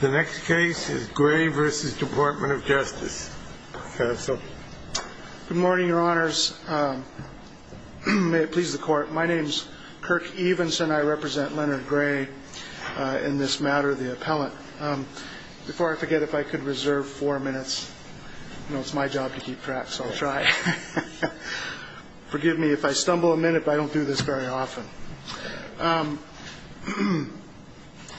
Gray v. Department of Justice Good morning, Your Honor. May it please the Court, my name is Kirk Evenson. I represent Leonard Gray in this matter, the appellant. Before I forget, if I could reserve four minutes. You know, it's my job to keep track, so I'll try. Forgive me if I stumble a minute, but I don't do this very often.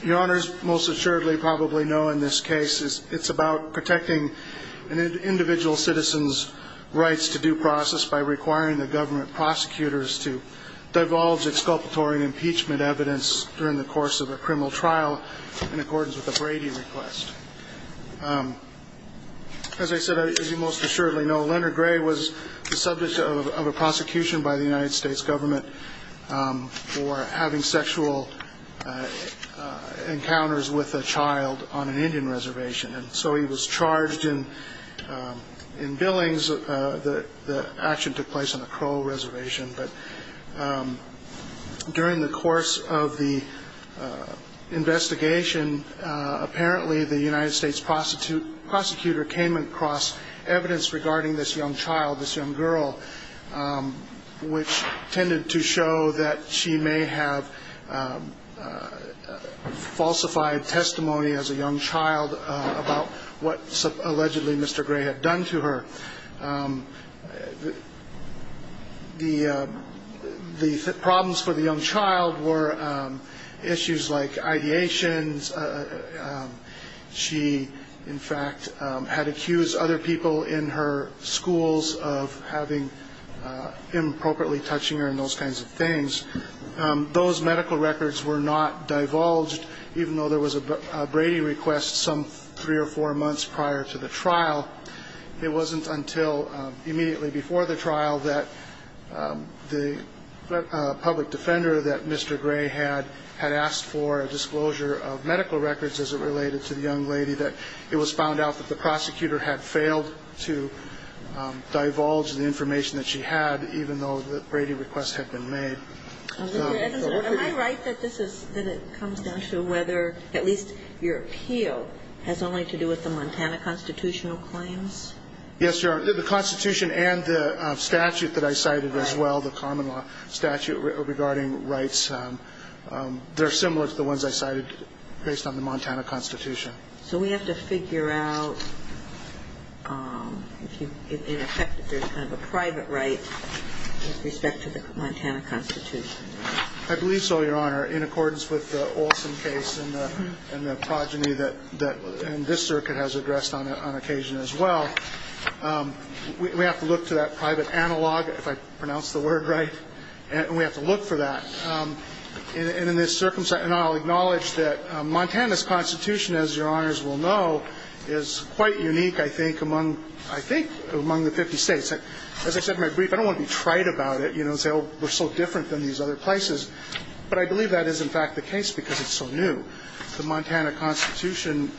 Your Honor, as you most assuredly probably know in this case, it's about protecting an individual citizen's rights to due process by requiring the government prosecutors to divulge exculpatory impeachment evidence during the course of a criminal trial in accordance with a Brady request. As I said, as you most assuredly know, Leonard Gray was the subject of a prosecution by the United States government for having sexual encounters with a child on an Indian reservation. And so he was charged in billings, the action took place on the Crow Reservation, but during the course of the investigation, apparently the United States prosecutor came across evidence regarding this young child, this young girl, which tended to show that she may have falsified testimony as a young child about what allegedly Mr. Gray had done to her. The problems for the young child were issues like ideations. She, in fact, had accused other people in her schools of having inappropriately touching her and those kinds of things. Those medical records were not divulged, even though there was a Brady request some three or four months prior to the trial. It wasn't until immediately before the trial that the public defender that Mr. Gray had had asked for a disclosure of medical records as it related to the young lady that it was found out that the prosecutor had failed to divulge the information that she had, even though the Brady request had been made. And Mr. Evans, am I right that this is -, that it comes down to whether, at least your appeal, has only to do with the Montana constitutional claims? Yes, Your Honor. The constitution and the statute that I cited as well, the Common Law statute, regarding rights. There are some words, the ones I cited, based on the Montana constitution. So we have to figure out if, in effect, if there's kind of a private right with respect to the Montana constitution. I believe so, Your Honor. In accordance with the Olson case and the progeny that this circuit has addressed on occasion as well, we have to look to that private analog, if I pronounced the word right, and we have to look for that. And in this circumstance, and I'll acknowledge that Montana's constitution, as Your Honors will know, is quite unique, I think, among, I think, among the 50 states. As I said in my brief, I don't want to be trite about it, you know, and say, oh, we're so different than these other places, but I believe that is, in fact, the case because it's so new. The Montana constitution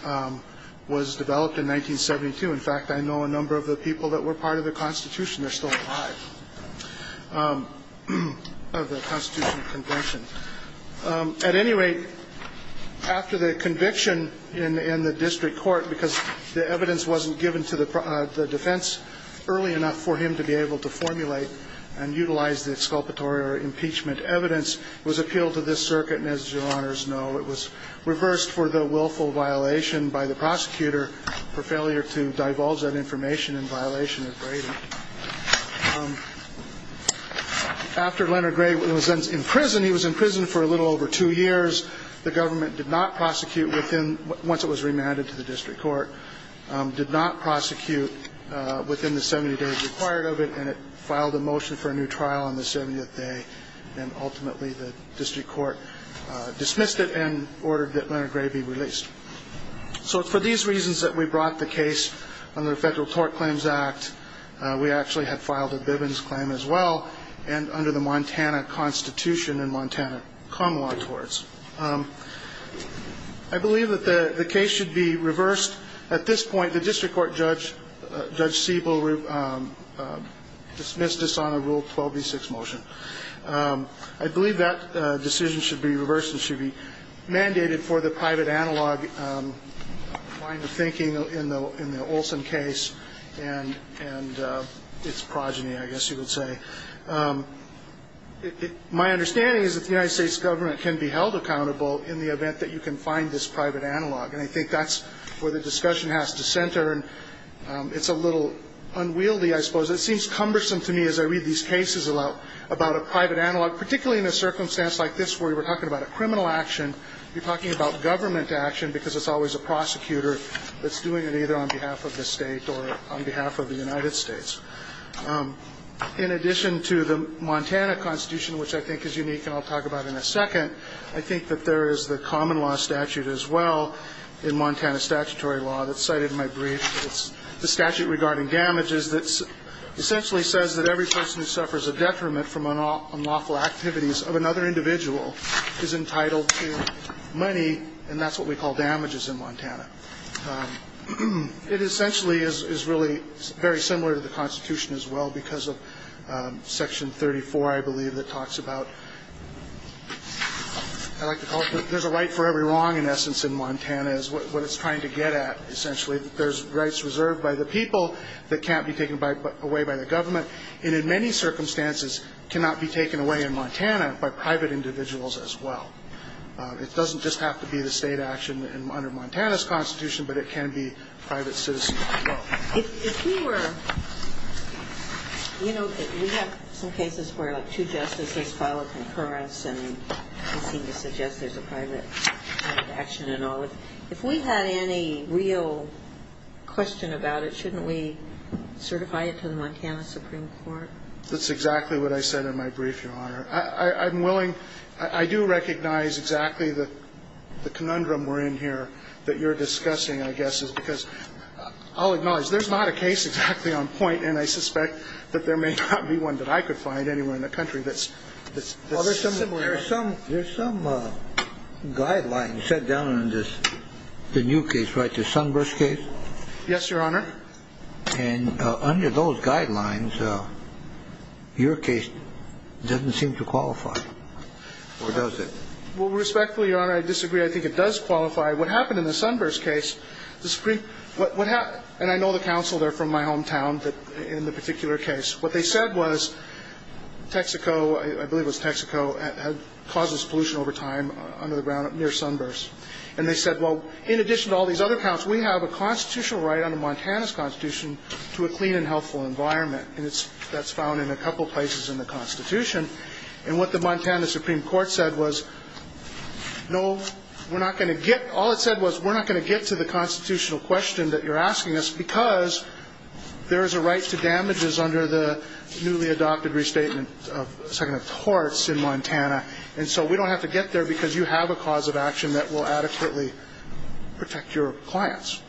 was developed in 1972. In fact, I know a number of the people that were part of the constitution, they're still alive, of the constitutional convention. At any rate, after the conviction in the district court, because the evidence wasn't given to the defense early enough for him to be able to formulate and utilize the exculpatory or impeachment evidence, it was appealed to this circuit, and as Your Honors know, it was reversed for the willful violation by the prosecutor for failure to document and divulge that information in violation of Brady. After Leonard Gray was in prison, he was in prison for a little over two years, the government did not prosecute within, once it was remanded to the district court, did not prosecute within the 70 days required of it, and it filed a motion for a new trial on the 70th day, and ultimately the district court dismissed it and ordered that Leonard Gray be released. So it's for these reasons that we brought the case under the Federal Tort Claims Act. We actually had filed a Bivens claim as well, and under the Montana constitution and Montana common law torts. I believe that the case should be reversed. At this point, the district court judge, Judge Siebel, dismissed us on a Rule 12B6 motion. I believe that decision should be reversed and should be mandated for the private analog kind of thinking in the Olson case and its progeny, I guess you would say. My understanding is that the United States government can be held accountable in the event that you can find this private analog, and I think that's where the discussion has to center, and it's a little unwieldy, I suppose. It seems cumbersome to me as I read these cases about a private analog, particularly in a circumstance like this where we're talking about a criminal action. You're talking about government action because it's always a prosecutor that's doing it either on behalf of the state or on behalf of the United States. In addition to the Montana constitution, which I think is unique and I'll talk about in a second, I think that there is the common law statute as well in Montana statutory law that's cited in my brief. It's the statute regarding damages that essentially says that every person who suffers a detriment from unlawful activities of another individual is entitled to money, and that's what we call damages in Montana. It essentially is really very similar to the Constitution as well because of Section 34, I believe, that talks about I like to call it there's a right for every wrong in essence in Montana is what it's trying to get at, essentially. There's rights reserved by the people that can't be taken away by the government, and in many circumstances cannot be taken away in Montana by private individuals as well. It doesn't just have to be the state action under Montana's constitution, but it can be private citizens as well. If we were, you know, we have some cases where like two justices file a concurrence, and they seem to suggest there's a private action and all. If we had any real question about it, shouldn't we certify it to the Montana Supreme Court? That's exactly what I said in my brief, Your Honor. I'm willing, I do recognize exactly the conundrum we're in here that you're discussing, I guess, is because I'll acknowledge there's not a case exactly on point, and I suspect that there may not be one that I could find anywhere in the country that's similar. Well, there's some guidelines set down in this, the new case, right, the Sunburst case? Yes, Your Honor. And under those guidelines, your case doesn't seem to qualify, or does it? Well, respectfully, Your Honor, I disagree. I think it does qualify. What happened in the Sunburst case, the Supreme, what happened, and I know the counsel there from my hometown in the particular case, what they said was Texaco, I believe it was Texaco, had caused this pollution over time under the ground near Sunburst. And they said, well, in addition to all these other counts, we have a constitutional right under Montana's Constitution to a clean and healthful environment, and that's found in a couple places in the Constitution. And what the Montana Supreme Court said was, no, we're not going to get, all it said was we're not going to get to the constitutional question that you're asking us because there is a right to damages under the newly adopted restatement of the Second Amendment courts in Montana. And so we don't have to get there because you have a cause of action that will adequately protect your clients.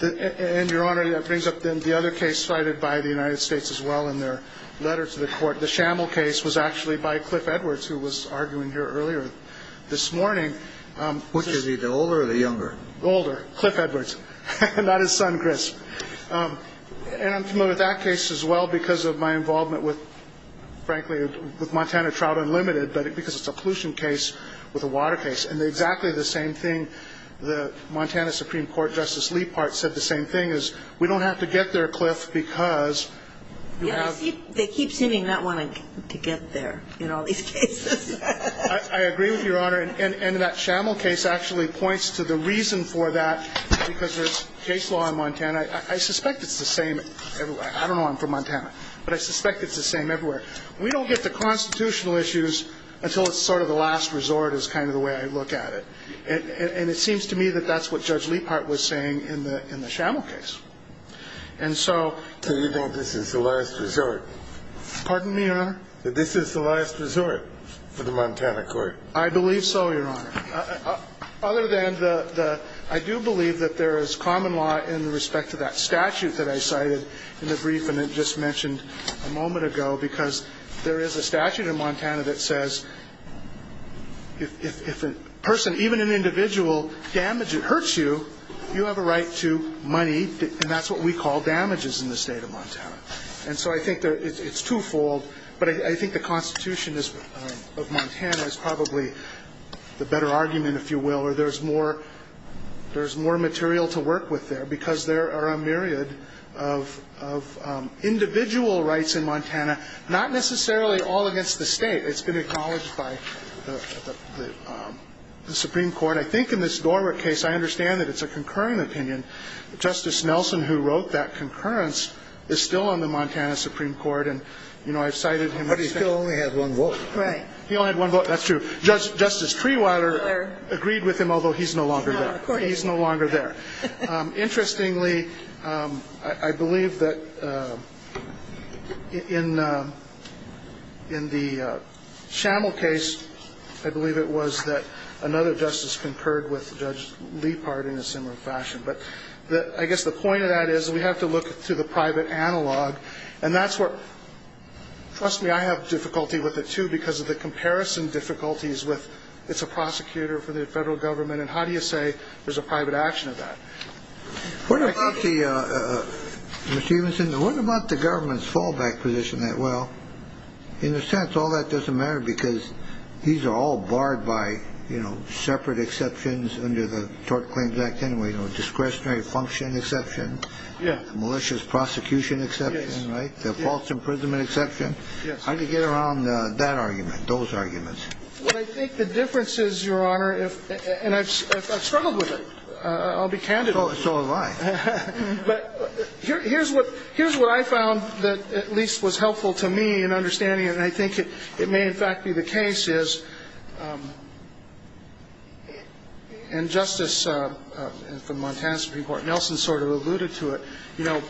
And, Your Honor, that brings up the other case cited by the United States as well in their letter to the Court. The Shamel case was actually by Cliff Edwards, who was arguing here earlier this morning. Older, Cliff Edwards, not his son, Chris. And I'm familiar with that case as well because of my involvement with, frankly, with Montana Trout Unlimited, but because it's a pollution case with a water case. And exactly the same thing, the Montana Supreme Court Justice Lepart said the same thing, is we don't have to get there, Cliff, because you have – They keep seeming not wanting to get there in all these cases. I agree with Your Honor. And that Shamel case actually points to the reason for that because there's case law in Montana. I suspect it's the same everywhere. I don't know. I'm from Montana. But I suspect it's the same everywhere. We don't get to constitutional issues until it's sort of the last resort is kind of the way I look at it. And it seems to me that that's what Judge Lepart was saying in the – in the Shamel case. And so – So you think this is the last resort? Pardon me, Your Honor? That this is the last resort for the Montana court? I believe so, Your Honor. Other than the – I do believe that there is common law in respect to that statute that I cited in the brief and it just mentioned a moment ago because there is a statute in Montana that says if a person, even an individual, damages – hurts you, you have a right to money, and that's what we call damages in the state of Montana. And so I think it's twofold. But I think the Constitution of Montana is probably the better argument, if you will, where there's more – there's more material to work with there because there are a myriad of individual rights in Montana, not necessarily all against the state. It's been acknowledged by the Supreme Court. I think in this Norwood case, I understand that it's a concurring opinion. Justice Nelson, who wrote that concurrence, is still on the Montana Supreme Court. And, you know, I've cited him. But he still only had one vote. Right. He only had one vote. That's true. Justice Trewiler agreed with him, although he's no longer there. No, of course not. He's no longer there. Interestingly, I believe that in the Schamel case, I believe it was that another justice concurred with Judge Lepard in a similar fashion. But I guess the point of that is we have to look to the private analog. And that's where – trust me, I have difficulty with it, too, because of the comparison difficulties with it's a prosecutor for the federal government. And how do you say there's a private action of that? What about the – Mr. Stephenson, what about the government's fallback position? Well, in a sense, all that doesn't matter because these are all barred by, you know, discretionary function exception. Yeah. Malicious prosecution exception. Yes. Right? The false imprisonment exception. Yes. How do you get around that argument, those arguments? Well, I think the difference is, Your Honor, and I've struggled with it. I'll be candid. So have I. But here's what I found that at least was helpful to me in understanding it, And I think it may, in fact, be the case is, and Justice from Montana Supreme Court Nelson sort of alluded to it, you know,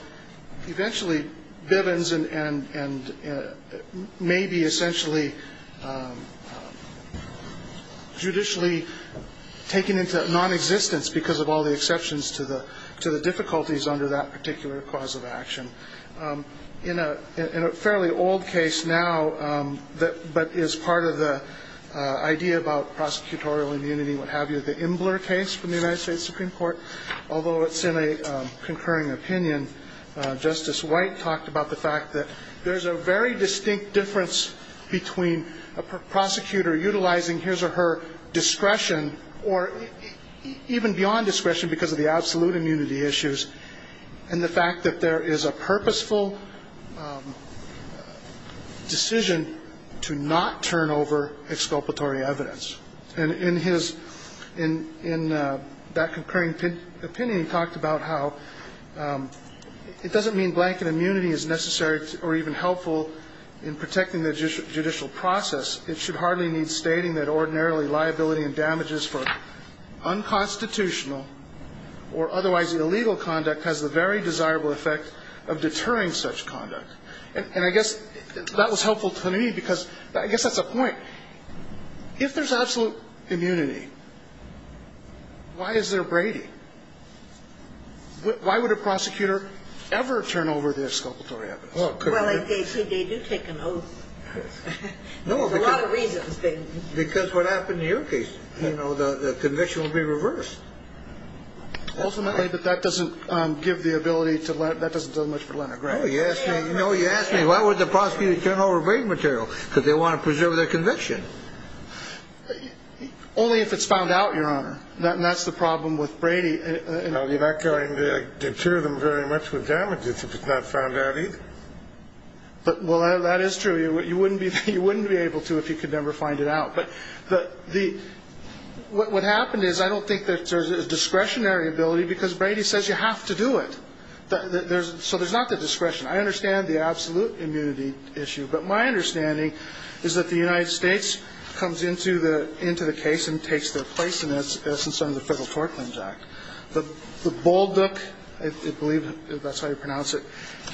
eventually Bivens and maybe essentially judicially taken into non-existence because of all the exceptions to the difficulties under that particular cause of action. In a fairly old case now, but is part of the idea about prosecutorial immunity, what have you, the Imbler case from the United States Supreme Court, although it's in a concurring opinion, Justice White talked about the fact that there's a very distinct difference between a prosecutor utilizing his or her discretion or even beyond discretion because of the absolute immunity issues and the fact that there is a purposeful decision to not turn over exculpatory evidence. And in his, in that concurring opinion he talked about how it doesn't mean blanket immunity is necessary or even helpful in protecting the judicial process. It should hardly need stating that ordinarily liability and damages for unconstitutional or otherwise illegal conduct has the very desirable effect of deterring such conduct. And I guess that was helpful to me because I guess that's the point. If there's absolute immunity, why is there Brady? Why would a prosecutor ever turn over the exculpatory evidence? Well, they do take an oath. There's a lot of reasons. Because what happened in your case, you know, the conviction will be reversed. Ultimately, but that doesn't give the ability to let, that doesn't do much for Leonard Graham. No, you asked me, why would the prosecutor turn over Brady material? Because they want to preserve their conviction. Only if it's found out, Your Honor, and that's the problem with Brady. You're not going to deter them very much with damages if it's not found out either. But, well, that is true. You wouldn't be able to if you could never find it out. But the, what happened is I don't think that there's a discretionary ability because Brady says you have to do it. So there's not the discretion. I understand the absolute immunity issue. But my understanding is that the United States comes into the case and takes their place in it, as in some of the Federal Tort Claims Act. The Bolduc, I believe that's how you pronounce it,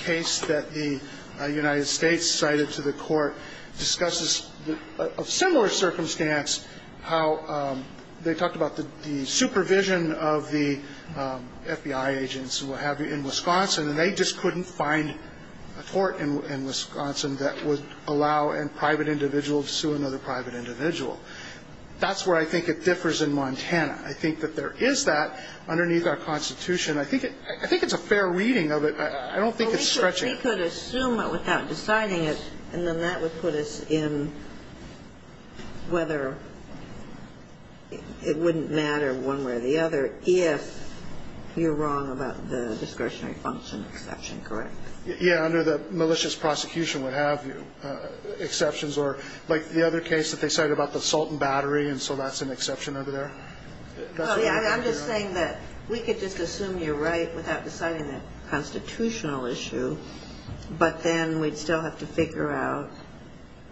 case that the United States cited to the court discusses of similar circumstance how they talked about the supervision of the FBI agents in Wisconsin. And they just couldn't find a court in Wisconsin that would allow a private individual to sue another private individual. That's where I think it differs in Montana. I think that there is that underneath our Constitution. I think it's a fair reading of it. I don't think it's stretching it. Well, we could assume it without deciding it, and then that would put us in whether it wouldn't matter one way or the other if you're wrong about the discretionary function exception, correct? Yeah, under the malicious prosecution would have exceptions or like the other case that they cited about the salt and battery, and so that's an exception over there? I'm just saying that we could just assume you're right without deciding the constitutional issue, but then we'd still have to figure out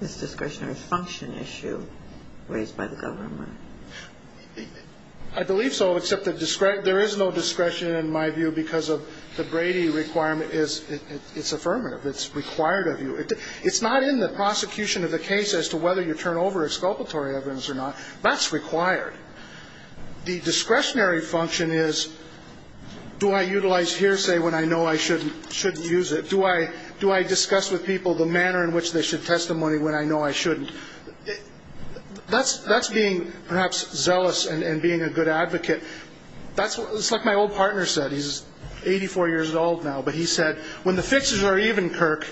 this discretionary function issue raised by the government. I believe so, except there is no discretion in my view because of the Brady requirement. It's affirmative. It's required of you. It's not in the prosecution of the case as to whether you turn over exculpatory evidence or not. That's required. The discretionary function is do I utilize hearsay when I know I shouldn't use it? Do I discuss with people the manner in which they should testimony when I know I shouldn't? That's being perhaps zealous and being a good advocate. It's like my old partner said. He's 84 years old now, but he said, when the fixes are even, Kirk,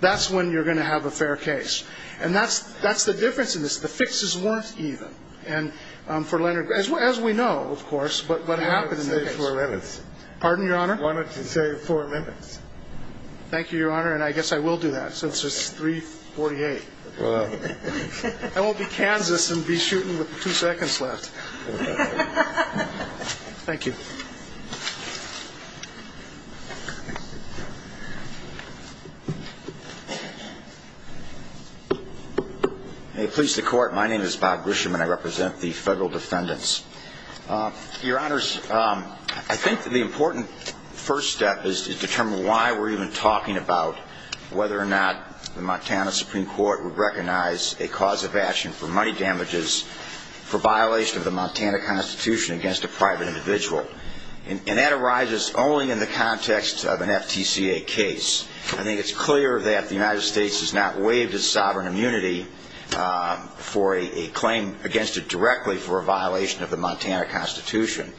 that's when you're going to have a fair case. And that's the difference in this. The fixes weren't even. And for Leonard, as we know, of course, but what happened in that case? I wanted to save four minutes. Pardon, Your Honor? I wanted to save four minutes. Thank you, Your Honor, and I guess I will do that since it's 3.48. I won't be Kansas and be shooting with two seconds left. Thank you. May it please the Court, my name is Bob Grisham and I represent the federal defendants. Your Honors, I think that the important first step is to determine why we're even talking about whether or not the Montana Supreme Court would recognize a cause of action for money damages for violation of the Montana Constitution against a private individual. And that arises only in the context of an FTCA case. I think it's clear that the United States has not waived its sovereign immunity for a claim against it directly for a violation of the Montana Constitution.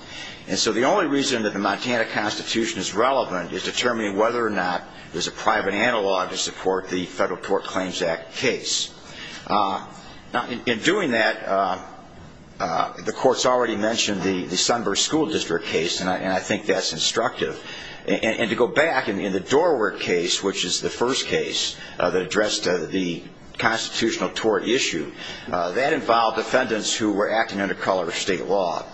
And so the only reason that the Montana Constitution is relevant is determining whether or not there's a private analog to support the Federal Tort Claims Act case. Now, in doing that, the Court's already mentioned the Sunburst School District case, and I think that's instructive. And to go back, in the Doorware case, which is the first case that addressed the constitutional tort issue, that involved defendants who were acting under color of state law.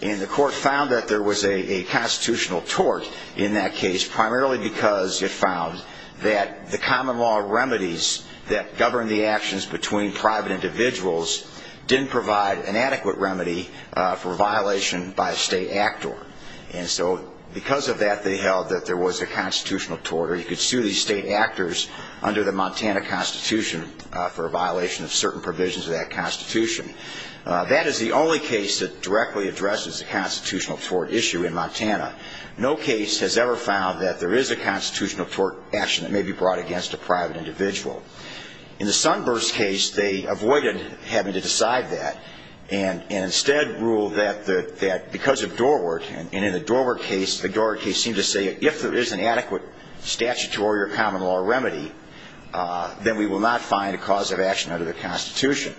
And the Court found that there was a constitutional tort in that case primarily because it found that the common law remedies that govern the actions between private individuals didn't provide an adequate remedy for a violation by a state actor. And so because of that, they held that there was a constitutional tort, or you could sue these state actors under the Montana Constitution for a violation of certain provisions of that constitution. That is the only case that directly addresses the constitutional tort issue in Montana. No case has ever found that there is a constitutional tort action that may be brought against a private individual. In the Sunburst case, they avoided having to decide that, and instead ruled that because of Doorware, and in the Doorware case, the Doorware case seemed to say if there is an adequate statutory or common law remedy, then we will not find a cause of action under the Constitution.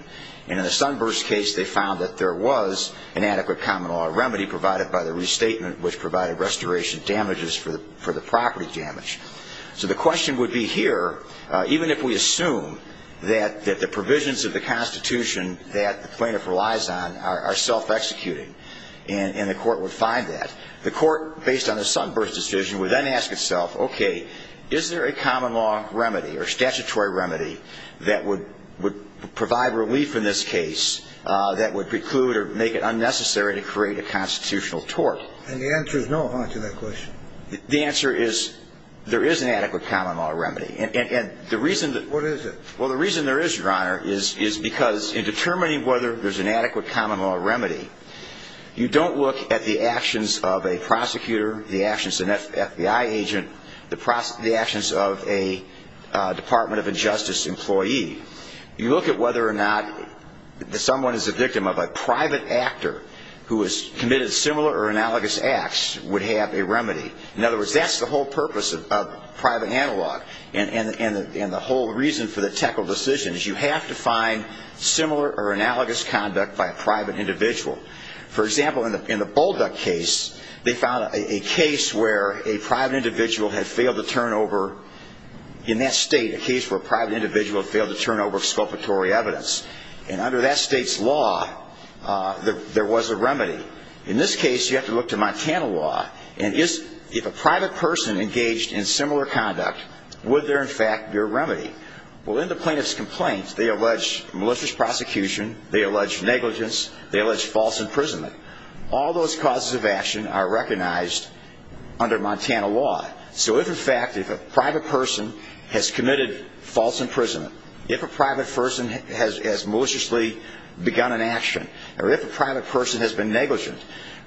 And in the Sunburst case, they found that there was an adequate common law remedy provided by the restatement which provided restoration damages for the property damage. So the question would be here, even if we assume that the provisions of the Constitution that the plaintiff relies on are self-executing, and the Court would find that, the Court, based on the Sunburst decision, would then ask itself, okay, is there a common law remedy or statutory remedy that would provide relief in this case that would preclude or make it unnecessary to create a constitutional tort? And the answer is no, huh, to that question. The answer is there is an adequate common law remedy. And the reason that... What is it? Well, the reason there is, Your Honor, is because in determining whether there is an adequate common law remedy, you don't look at the actions of a prosecutor, the actions of an FBI agent, the actions of a Department of Injustice employee. You look at whether or not someone is a victim of a private actor who has committed similar or analogous acts would have a remedy. In other words, that's the whole purpose of private analog, and the whole reason for the Teckle decision is you have to find similar or analogous conduct by a private individual. For example, in the Bullduck case, they found a case where a private individual had failed to turn over, in that state, a case where a private individual had failed to turn over exculpatory evidence. And under that state's law, there was a remedy. In this case, you have to look to Montana law, and if a private person engaged in similar conduct, would there, in fact, be a remedy? Well, in the plaintiff's complaint, they allege malicious prosecution, they allege negligence, they allege false imprisonment. All those causes of action are recognized under Montana law. So if, in fact, if a private person has committed false imprisonment, if a private person has maliciously begun an action, or if a private person has been negligent,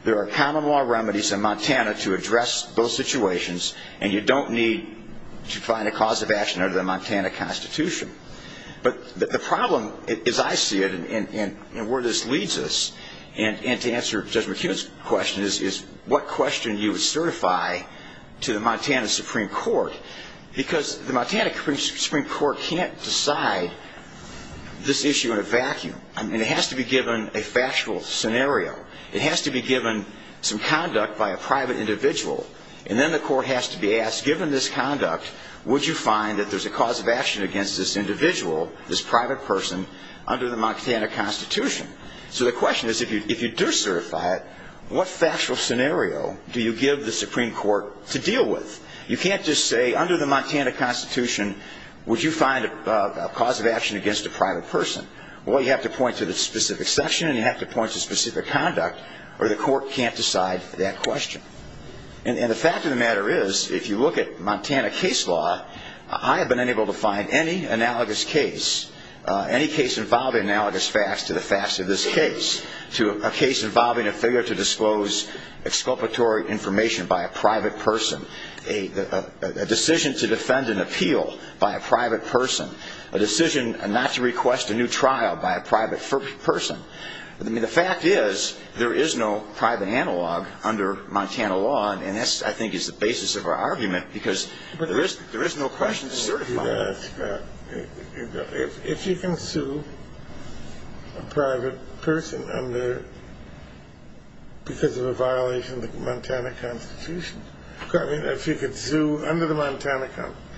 there are common law remedies in Montana to address those situations, and you don't need to find a cause of action under the Montana Constitution. But the problem, as I see it, and where this leads us, and to answer Judge McHugh's question, is what question you would certify to the Montana Supreme Court, because the Montana Supreme Court can't decide this issue in a vacuum. It has to be given a factual scenario. It has to be given some conduct by a private individual, and then the court has to be asked, given this conduct, would you find that there's a cause of action against this individual, this private person, under the Montana Constitution? So the question is, if you do certify it, what factual scenario do you give the Supreme Court to deal with? You can't just say, under the Montana Constitution, would you find a cause of action against a private person. Well, you have to point to the specific section, and you have to point to specific conduct, or the court can't decide that question. And the fact of the matter is, if you look at Montana case law, I have been unable to find any analogous case, any case involving analogous facts to the facts of this case, to a case involving a failure to disclose exculpatory information by a private person, a decision to defend an appeal by a private person, a decision not to request a new trial by a private person. I mean, the fact is, there is no private analog under Montana law, and that, I think, is the basis of our argument, because there is no question to certify it. If you can sue a private person because of a violation of the Montana Constitution, I mean, if you could sue, under the Montana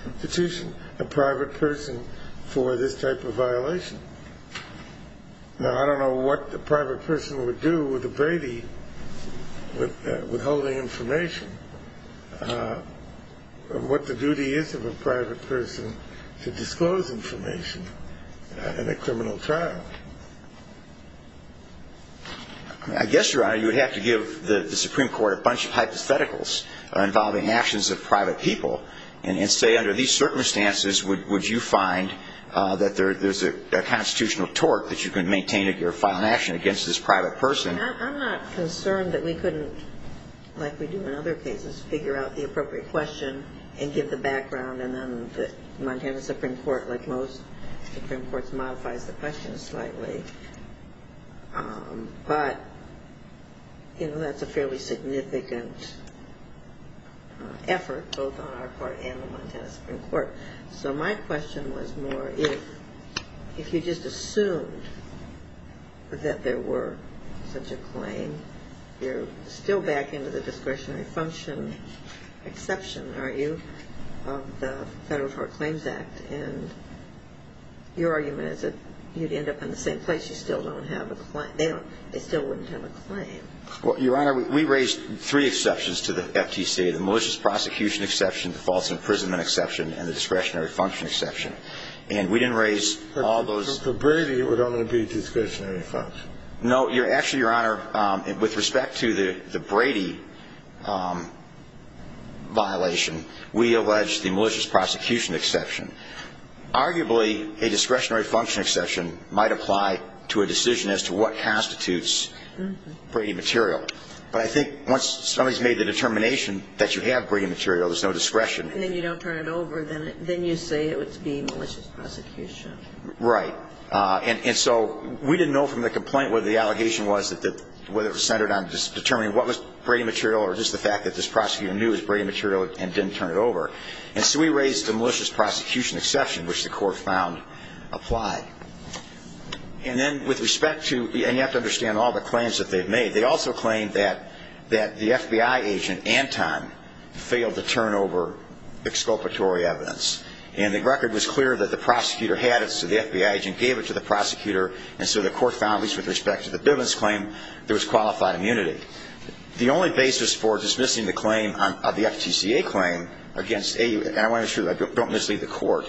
Constitution, a private person for this type of violation. Now, I don't know what the private person would do with a Brady withholding information, or what the duty is of a private person to disclose information in a criminal trial. I guess, Your Honor, you would have to give the Supreme Court a bunch of hypotheticals involving actions of private people and say, under these circumstances, would you find that there is a constitutional tort that you can maintain if you file an action against this private person. I mean, I'm not concerned that we couldn't, like we do in other cases, figure out the appropriate question and give the background, and then the Montana Supreme Court, like most Supreme Courts, modifies the question slightly. But, you know, that's a fairly significant effort, both on our part and the Montana Supreme Court. So my question was more if you just assumed that there were such a claim, you're still back into the discretionary function exception, aren't you, of the Federal Tort Claims Act, and your argument is that you'd end up in the same place. You still don't have a claim. They still wouldn't have a claim. Well, Your Honor, we raised three exceptions to the FTC, the malicious prosecution exception, the false imprisonment exception, and the discretionary function exception. And we didn't raise all those. But for Brady, it would only be discretionary function. No. Actually, Your Honor, with respect to the Brady violation, we allege the malicious prosecution exception. Arguably, a discretionary function exception might apply to a decision as to what constitutes Brady material. But I think once somebody's made the determination that you have Brady material, there's no discretion. And then you don't turn it over. Then you say it would be malicious prosecution. Right. And so we didn't know from the complaint what the allegation was, whether it was centered on determining what was Brady material or just the fact that this prosecutor knew it was Brady material and didn't turn it over. And so we raised the malicious prosecution exception, which the court found applied. And then with respect to the end, you have to understand all the claims that they've made. They also claimed that the FBI agent, Anton, failed to turn over exculpatory evidence. And the record was clear that the prosecutor had it, so the FBI agent gave it to the prosecutor. And so the court found, at least with respect to the Bivens claim, there was qualified immunity. The only basis for dismissing the claim of the FTCA claim against AU, and I want to make sure that I don't mislead the court,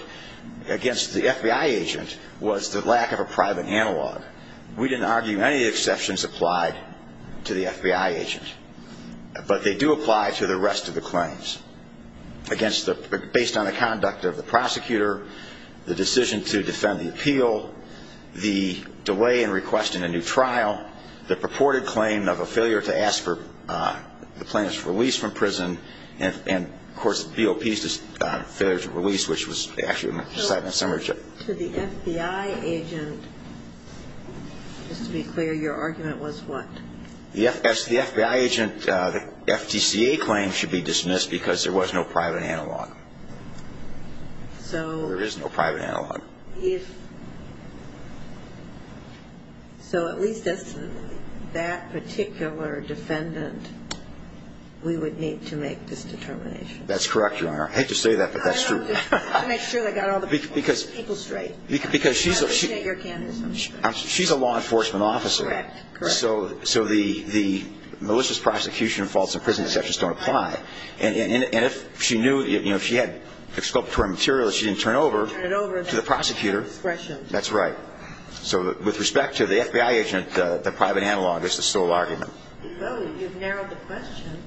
against the FBI agent was the lack of a private analog. We didn't argue any exceptions applied to the FBI agent. But they do apply to the rest of the claims, based on the conduct of the prosecutor, the decision to defend the appeal, the delay in requesting a new trial, the purported claim of a failure to ask for the plaintiff's release from prison, and, of course, the BOP's failure to release, which was actually decided in a summary. To the FBI agent, just to be clear, your argument was what? The FBI agent, the FTCA claim should be dismissed because there was no private analog. There is no private analog. So at least that particular defendant, we would need to make this determination. That's correct, Your Honor. I hate to say that, but that's true. I want to make sure that I got all the people straight. Because she's a law enforcement officer, so the malicious prosecution and false imprisonment exceptions don't apply. And if she knew, if she had exculpatory material, she didn't turn it over to the prosecutor. That's right. So with respect to the FBI agent, the private analog is the sole argument. Well, you've narrowed the question.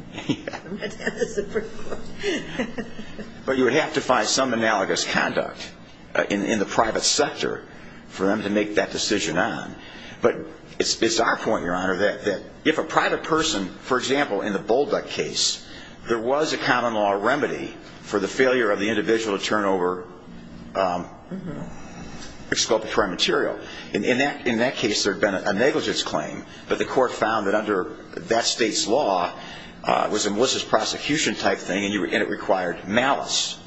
But you would have to find some analogous conduct in the private sector for them to make that decision on. But it's our point, Your Honor, that if a private person, for example, in the Bull Duck case, there was a common law remedy for the failure of the individual to turn over exculpatory material. In that case, there had been a negligence claim, but the court found that under that state's law, it was a malicious prosecution type thing, and it required malice.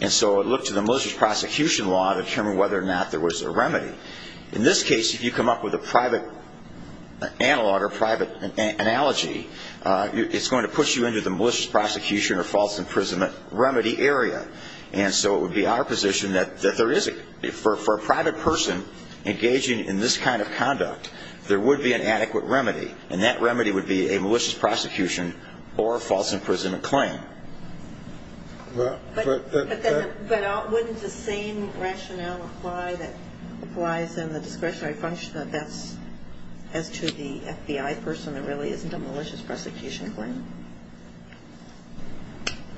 And so it looked to the malicious prosecution law to determine whether or not there was a remedy. In this case, if you come up with a private analog or private analogy, it's going to push you into the malicious prosecution or false imprisonment remedy area. And so it would be our position that there is, for a private person engaging in this kind of conduct, there would be an adequate remedy. And that remedy would be a malicious prosecution or a false imprisonment claim. But wouldn't the same rationale apply that applies in the discretionary function that that's as to the FBI person, there really isn't a malicious prosecution claim?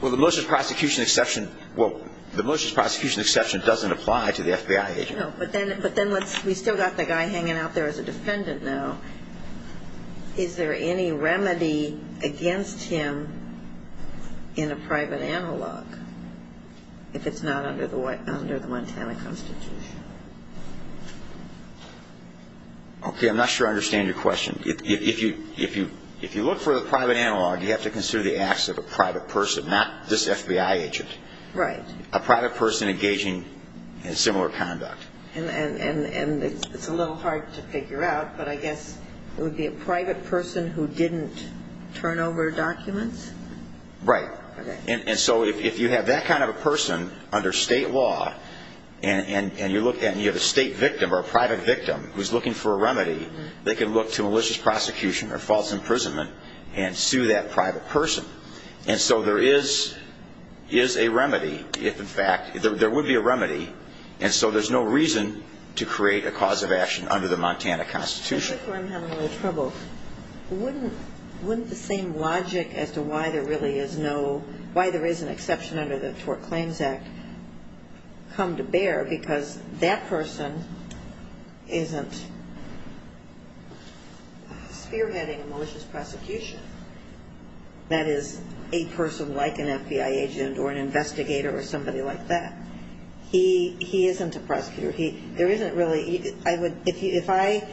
Well, the malicious prosecution exception doesn't apply to the FBI agent. No, but then we've still got the guy hanging out there as a defendant now. Is there any remedy against him in a private analog if it's not under the Montana Constitution? Okay, I'm not sure I understand your question. If you look for the private analog, you have to consider the acts of a private person, not this FBI agent. Right. A private person engaging in similar conduct. And it's a little hard to figure out, but I guess it would be a private person who didn't turn over documents? Right. Okay. And so if you have that kind of a person under state law and you have a state victim or a private victim who's looking for a remedy, they can look to malicious prosecution or false imprisonment and sue that private person. And so there is a remedy, in fact, there would be a remedy, and so there's no reason to create a cause of action under the Montana Constitution. Before I'm having a little trouble, wouldn't the same logic as to why there really is no, why there is an exception under the Tort Claims Act come to bear because that person isn't spearheading a malicious prosecution? That is, a person like an FBI agent or an investigator or somebody like that. He isn't a prosecutor. There isn't really, I would, if I,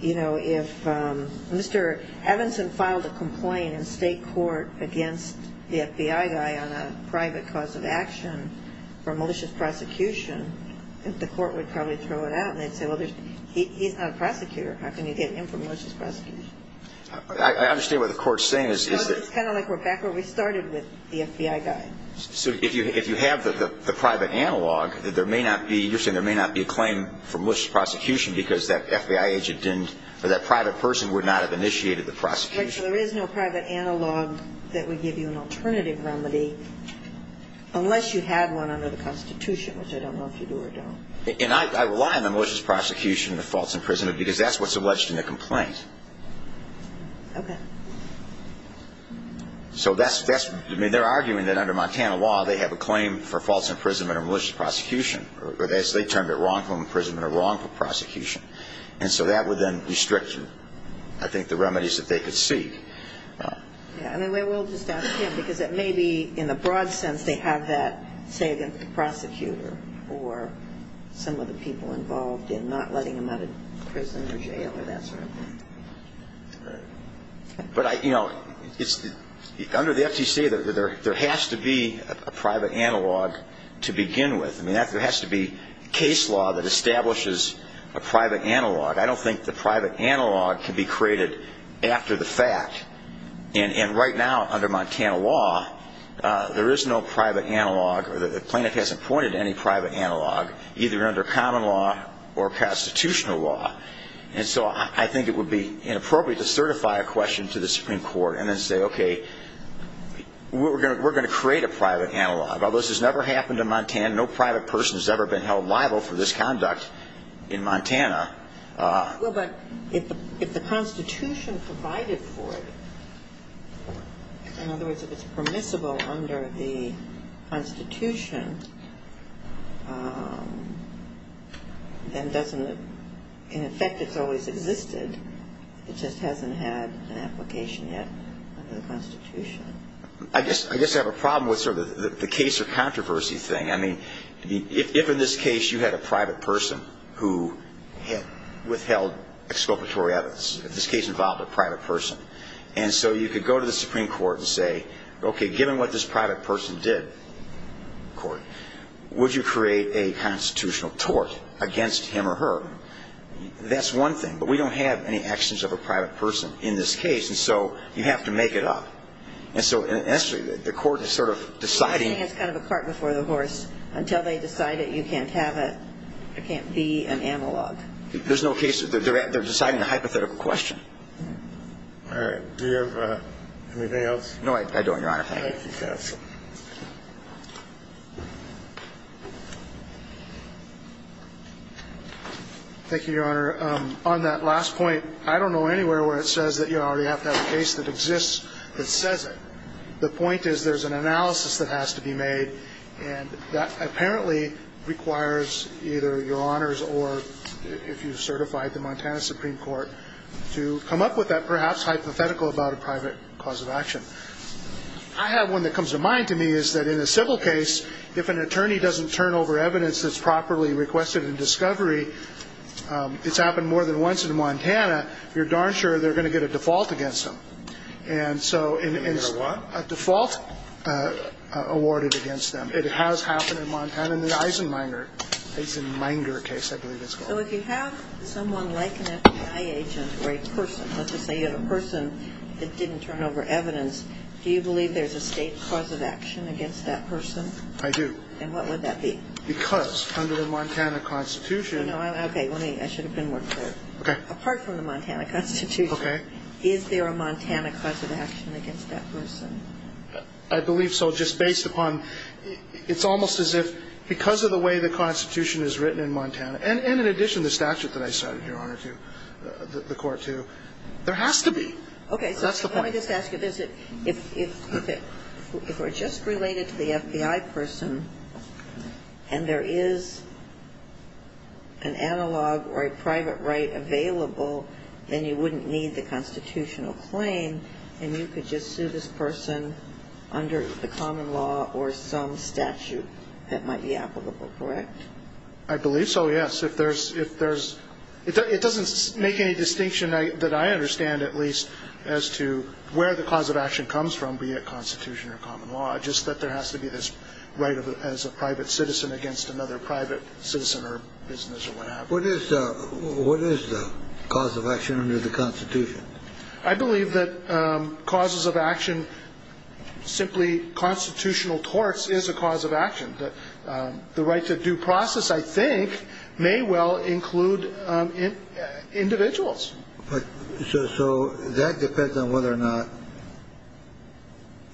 you know, if Mr. Evanson filed a complaint in state court against the FBI guy on a private cause of action for malicious prosecution, the court would probably throw it out and they'd say, well, he's not a prosecutor. How can you get him for malicious prosecution? I understand what the court is saying. It's kind of like we're back where we started with the FBI guy. So if you have the private analog, there may not be, you're saying there may not be a claim for malicious prosecution because that FBI agent didn't, or that private person would not have initiated the prosecution? There is no private analog that would give you an alternative remedy unless you had one under the Constitution, which I don't know if you do or don't. And I rely on the malicious prosecution and the false imprisonment because that's what's alleged in the complaint. Okay. So that's, I mean, they're arguing that under Montana law they have a claim for false imprisonment or malicious prosecution, or they termed it wrongful imprisonment or wrongful prosecution. And so that would then restrict, I think, the remedies that they could seek. Yeah, I mean, we'll just ask him because it may be in the broad sense they have that say against the prosecutor or some of the people involved in not letting them out of prison or jail or that sort of thing. Right. But, you know, under the FTC there has to be a private analog to begin with. I mean, there has to be case law that establishes a private analog. I don't think the private analog can be created after the fact. And right now under Montana law there is no private analog, or the plaintiff hasn't pointed to any private analog, either under common law or constitutional law. And so I think it would be inappropriate to certify a question to the Supreme Court and then say, okay, we're going to create a private analog. Although this has never happened in Montana, no private person has ever been held liable for this conduct in Montana. Well, but if the Constitution provided for it, in other words, if it's permissible under the Constitution, then doesn't it, in effect, it's always existed. It just hasn't had an application yet under the Constitution. I guess I have a problem with sort of the case of controversy thing. I mean, if in this case you had a private person who withheld exculpatory evidence, if this case involved a private person, and so you could go to the Supreme Court and say, okay, given what this private person did, would you create a constitutional tort against him or her? That's one thing. But we don't have any actions of a private person in this case, and so you have to make it up. And so the court is sort of deciding. It's kind of a cart before the horse. Until they decide it, you can't have it. It can't be an analog. There's no case that they're deciding a hypothetical question. All right. Do you have anything else? No, I don't, Your Honor. Thank you. Thank you, counsel. Thank you, Your Honor. On that last point, I don't know anywhere where it says that you already have to have a case that exists that says it. The point is there's an analysis that has to be made, and that apparently requires either your honors or if you've certified the Montana Supreme Court to come up with that perhaps hypothetical about a private cause of action. I have one that comes to mind to me is that in a civil case, if an attorney doesn't turn over evidence that's properly requested in discovery, it's happened more than once in Montana, you're darn sure they're going to get a default against them. And so it's a default awarded against them. It has happened in Montana. In the Eisenmenger case, I believe it's called. So if you have someone like an FBI agent or a person, let's just say you have a person that didn't turn over evidence, do you believe there's a state cause of action against that person? I do. And what would that be? Because under the Montana Constitution. Okay. I should have been more clear. Okay. Apart from the Montana Constitution. Okay. Is there a Montana cause of action against that person? I believe so, just based upon, it's almost as if because of the way the Constitution is written in Montana, and in addition to the statute that I cited, Your Honor, to the court, too, there has to be. Okay. That's the point. So I just want to ask if it's, if we're just related to the FBI person and there is an analog or a private right available, then you wouldn't need the constitutional claim and you could just sue this person under the common law or some statute that might be applicable, correct? I believe so, yes. If there's, if there's, it doesn't make any distinction that I understand, at least, as to where the cause of action comes from, be it Constitution or common law, just that there has to be this right as a private citizen against another private citizen or business or whatever. What is the cause of action under the Constitution? I believe that causes of action, simply constitutional torts, is a cause of action. The right to due process, I think, may well include individuals. So that depends on whether or not,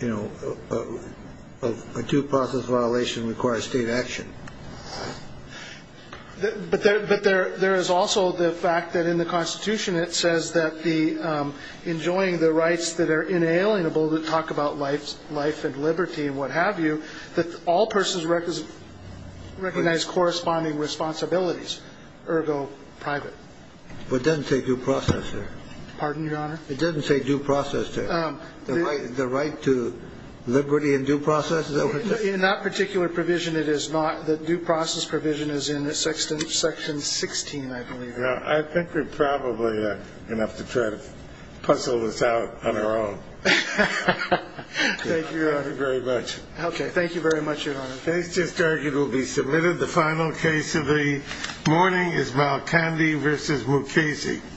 you know, a due process violation requires state action. But there is also the fact that in the Constitution, it says that the, enjoying the rights that are inalienable that talk about life and liberty and what have you, that all persons recognize corresponding responsibilities, ergo private. But it doesn't say due process there. Pardon, Your Honor? It doesn't say due process there. The right to liberty and due process? In that particular provision, it is not. The due process provision is in section 16, I believe. I think we're probably enough to try to puzzle this out on our own. Thank you, Your Honor. Thank you very much. Okay. Thank you very much, Your Honor. Case just argued will be submitted. The final case of the morning is Malkandi v. Mukasey.